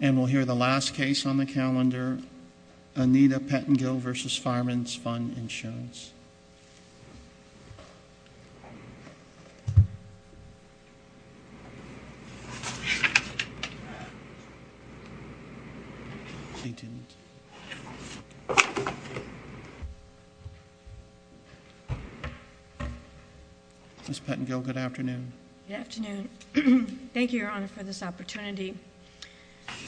And we'll hear the last case on the calendar, Anita Pettengill v. Fireman's Fund Insurance. Ms. Pettengill, good afternoon. Good afternoon. Thank you, Your Honor, for this opportunity.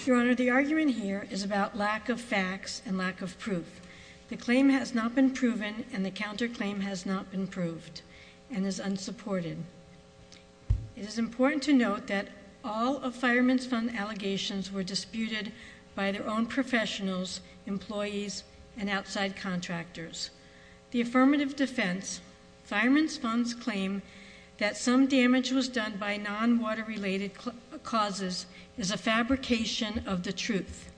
Your Honor, the argument here is about lack of facts and lack of proof. The claim has not been proven and the counterclaim has not been proved and is unsupported. It is important to note that all of Fireman's Fund allegations were disputed by their own professionals, employees, and outside contractors. The affirmative defense, Fireman's Fund's claim that some damage was done by non-water-related causes is a fabrication of the truth.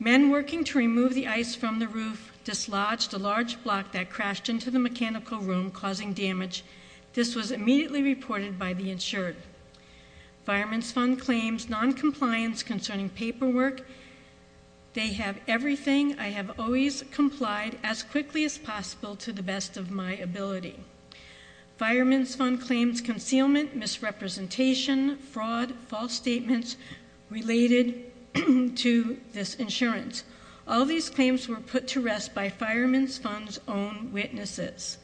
Men working to remove the ice from the roof dislodged a large block that crashed into the mechanical room causing damage. This was immediately reported by the insured. Fireman's Fund claims noncompliance concerning paperwork. They have everything. I have always complied as quickly as possible to the best of my ability. Fireman's Fund claims concealment, misrepresentation, fraud, false statements related to this insurance. All these claims were put to rest by Fireman's Fund's own witnesses.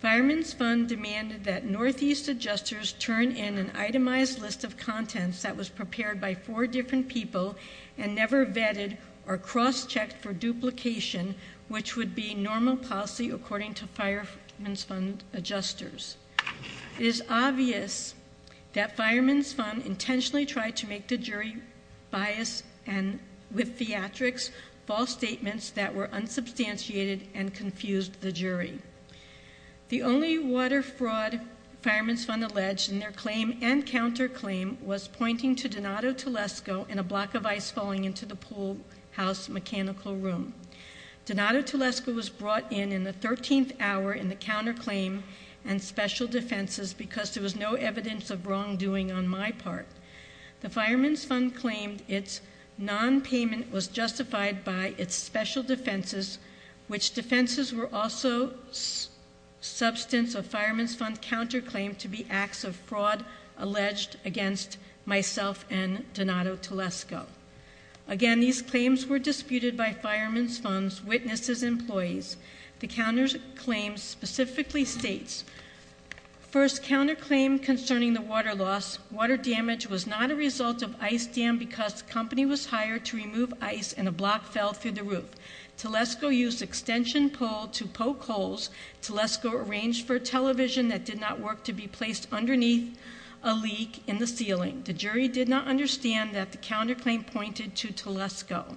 Fireman's Fund demanded that Northeast adjusters turn in an itemized list of contents that was prepared by four different people and never vetted or cross-checked for duplication, which would be normal policy according to Fireman's Fund adjusters. It is obvious that Fireman's Fund intentionally tried to make the jury bias and, with theatrics, false statements that were unsubstantiated and confused the jury. The only water fraud Fireman's Fund alleged in their claim and counterclaim was pointing to Donato Telesco in a block of ice falling into the pool house mechanical room. Donato Telesco was brought in in the 13th hour in the counterclaim and special defenses because there was no evidence of wrongdoing on my part. The Fireman's Fund claimed its nonpayment was justified by its special defenses, which defenses were also substance of Fireman's Fund counterclaim to be acts of fraud alleged against myself and Donato Telesco. Again, these claims were disputed by Fireman's Fund's witnesses and employees. The counterclaim specifically states, first counterclaim concerning the water loss. Water damage was not a result of ice dam because company was hired to remove ice and a block fell through the roof. Telesco used extension pole to poke holes. Telesco arranged for television that did not work to be placed underneath a leak in the ceiling. The jury did not understand that the counterclaim pointed to Telesco.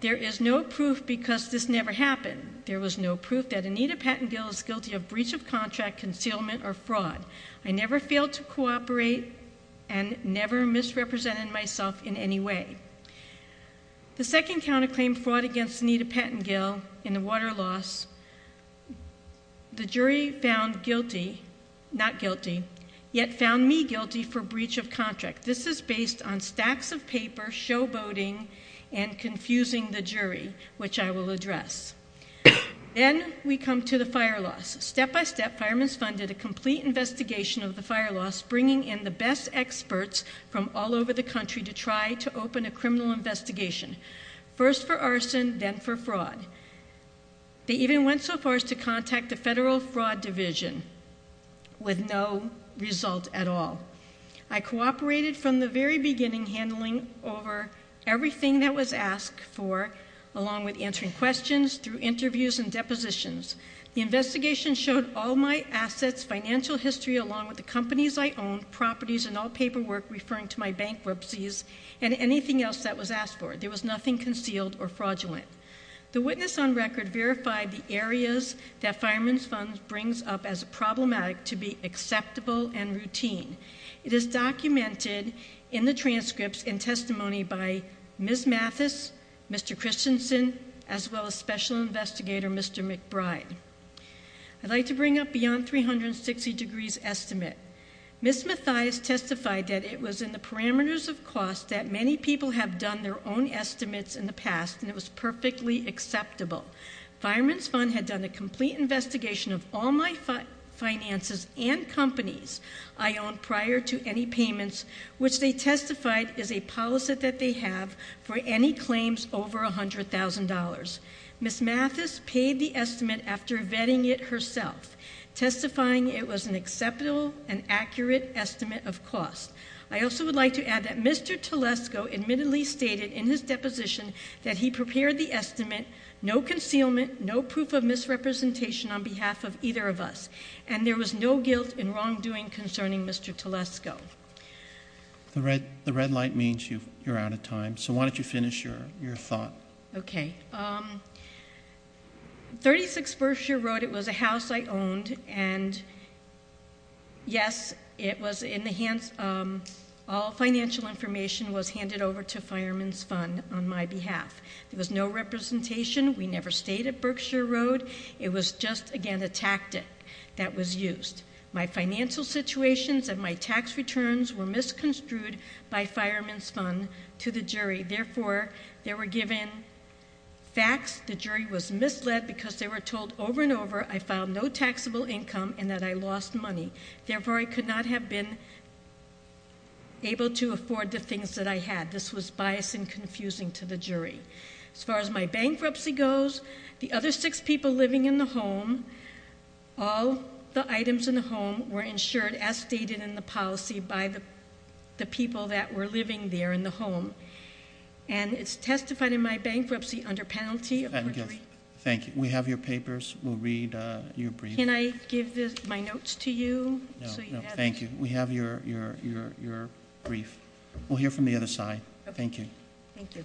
There is no proof because this never happened. There was no proof that Anita Pattengill is guilty of breach of contract, concealment, or fraud. I never failed to cooperate and never misrepresented myself in any way. The second counterclaim fraud against Anita Pattengill in the water loss. The jury found guilty, not guilty, yet found me guilty for breach of contract. This is based on stacks of paper, showboating, and confusing the jury, which I will address. Then we come to the fire loss. Step by step, Fireman's Fund did a complete investigation of the fire loss, bringing in the best experts from all over the country to try to open a criminal investigation. First for arson, then for fraud. They even went so far as to contact the Federal Fraud Division with no result at all. I cooperated from the very beginning, handling over everything that was asked for, along with answering questions through interviews and depositions. The investigation showed all my assets, financial history, along with the companies I owned, properties, and all paperwork referring to my bankruptcies, and anything else that was asked for. There was nothing concealed or fraudulent. The witness on record verified the areas that Fireman's Fund brings up as problematic to be acceptable and routine. It is documented in the transcripts and testimony by Ms. Mathis, Mr. Christensen, as well as Special Investigator Mr. McBride. I'd like to bring up Beyond 360 Degrees Estimate. Ms. Mathias testified that it was in the parameters of cost that many people have done their own estimates in the past, and it was perfectly acceptable. Fireman's Fund had done a complete investigation of all my finances and companies I owned prior to any payments, which they testified is a policy that they have for any claims over $100,000. Ms. Mathis paid the estimate after vetting it herself, testifying it was an acceptable and accurate estimate of cost. I also would like to add that Mr. Telesco admittedly stated in his deposition that he prepared the estimate, no concealment, no proof of misrepresentation on behalf of either of us. And there was no guilt in wrongdoing concerning Mr. Telesco. The red light means you're out of time, so why don't you finish your thought? Okay, 36th First Year Road, it was a house I owned, and yes, it was in the hands, all financial information was handed over to Fireman's Fund on my behalf. There was no representation, we never stayed at Berkshire Road, it was just, again, a tactic that was used. My financial situations and my tax returns were misconstrued by Fireman's Fund to the jury. Therefore, they were given facts, the jury was misled because they were told over and over again that I had no income and that I lost money, therefore I could not have been able to afford the things that I had. This was bias and confusing to the jury. As far as my bankruptcy goes, the other six people living in the home, all the items in the home were insured as stated in the policy by the people that were living there in the home. And it's testified in my bankruptcy under penalty of- Thank you, we have your papers, we'll read your brief. Can I give my notes to you? So you have- Thank you, we have your brief. We'll hear from the other side. Thank you. Thank you.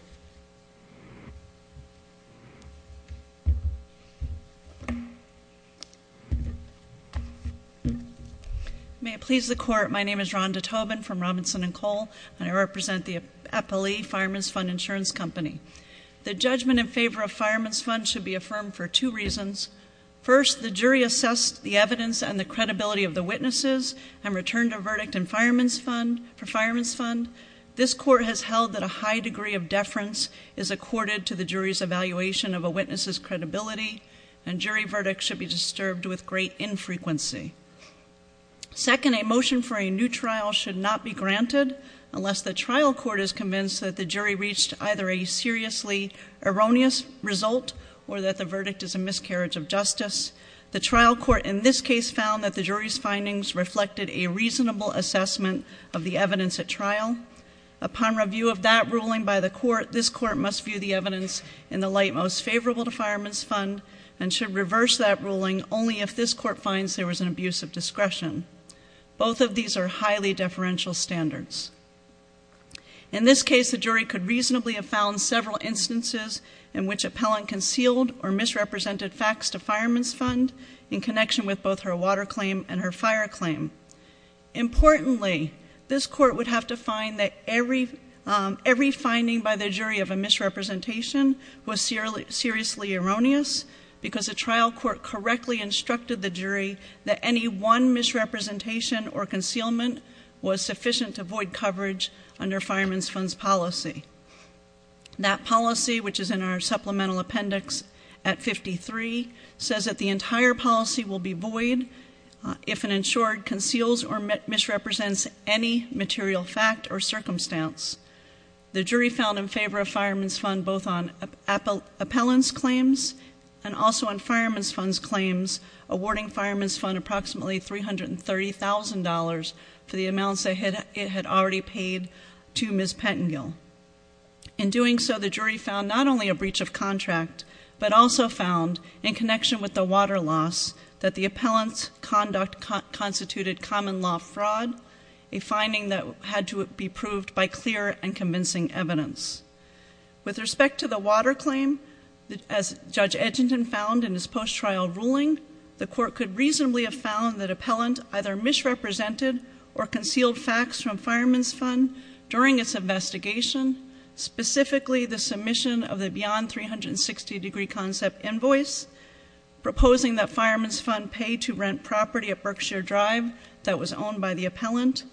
May it please the court, my name is Rhonda Tobin from Robinson and Cole, and I represent the FLE, Fireman's Fund Insurance Company. The judgment in favor of Fireman's Fund should be affirmed for two reasons. First, the jury assessed the evidence and the credibility of the witnesses and returned a verdict for Fireman's Fund. This court has held that a high degree of deference is accorded to the jury's evaluation of a witness's credibility. And jury verdict should be disturbed with great infrequency. Second, a motion for a new trial should not be granted unless the trial court is convinced that the jury reached either a seriously erroneous result or that the verdict is a miscarriage of justice. The trial court in this case found that the jury's findings reflected a reasonable assessment of the evidence at trial. Upon review of that ruling by the court, this court must view the evidence in the light most favorable to Fireman's Fund and should reverse that ruling only if this court finds there was an abuse of discretion. Both of these are highly deferential standards. In this case, the jury could reasonably have found several instances in which appellant concealed or misrepresented facts to Fireman's Fund in connection with both her water claim and her fire claim. Importantly, this court would have to find that every finding by the jury of a misrepresentation was seriously erroneous because the trial court correctly instructed the jury that any one misrepresentation or concealment was sufficient to void coverage under Fireman's Fund's policy. That policy, which is in our supplemental appendix at 53, says that the entire policy will be void if an insured conceals or misrepresents any material fact or circumstance. The jury found in favor of Fireman's Fund both on appellant's claims and also on Fireman's Fund's claims, awarding Fireman's Fund approximately $330,000 for the amounts it had already paid to Ms. Pettengill. In doing so, the jury found not only a breach of contract, but also found in connection with the water loss that the appellant's conduct constituted common law fraud, a finding that had to be proved by clear and convincing evidence. With respect to the water claim, as Judge Edginton found in his post-trial ruling, the court could reasonably have found that appellant either misrepresented or concealed facts from Fireman's Fund during its investigation, specifically the submission of the beyond 360 degree concept invoice, proposing that Fireman's Fund pay to rent property at Berkshire Drive that was owned by the appellant,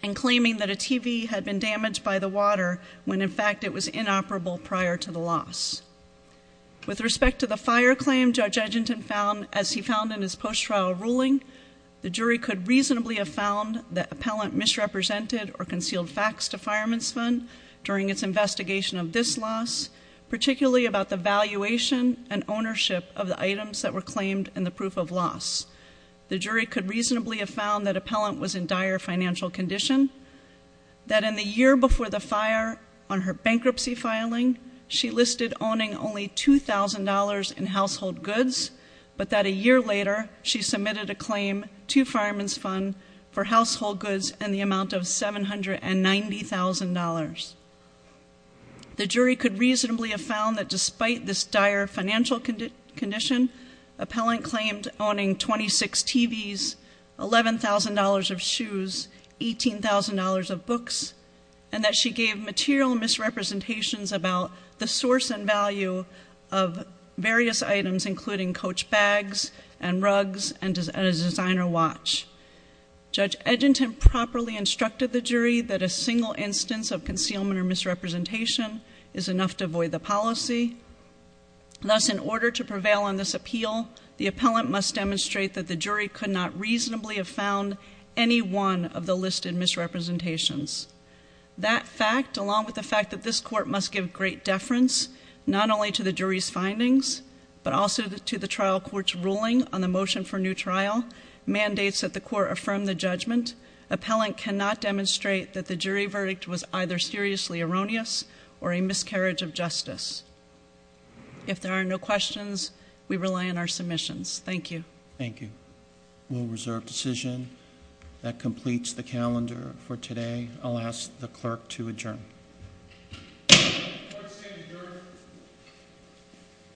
And claiming that a TV had been damaged by the water when, in fact, it was inoperable prior to the loss. With respect to the fire claim, Judge Edginton found, as he found in his post-trial ruling, the jury could reasonably have found that appellant misrepresented or concealed facts to Fireman's Fund during its investigation of this loss, particularly about the valuation and ownership of the items that were claimed in the proof of loss. The jury could reasonably have found that appellant was in dire financial condition, that in the year before the fire, on her bankruptcy filing, she listed owning only $2,000 in household goods, but that a year later, she submitted a claim to Fireman's Fund for household goods in the amount of $790,000. The jury could reasonably have found that despite this dire financial condition, appellant claimed owning 26 TVs, $11,000 of shoes, $18,000 of books, and that she gave material misrepresentations about the source and value of various items including coach bags and rugs and a designer watch. Judge Edginton properly instructed the jury that a single instance of concealment or misrepresentation is enough to void the policy. Thus, in order to prevail on this appeal, the appellant must demonstrate that the jury could not reasonably have found any one of the listed misrepresentations. That fact, along with the fact that this court must give great deference, not only to the jury's findings, but also to the trial court's ruling on the motion for new trial, mandates that the court affirm the judgment. Appellant cannot demonstrate that the jury verdict was either seriously erroneous or a miscarriage of justice. If there are no questions, we rely on our submissions. Thank you. Thank you. We'll reserve decision. That completes the calendar for today. I'll ask the clerk to adjourn.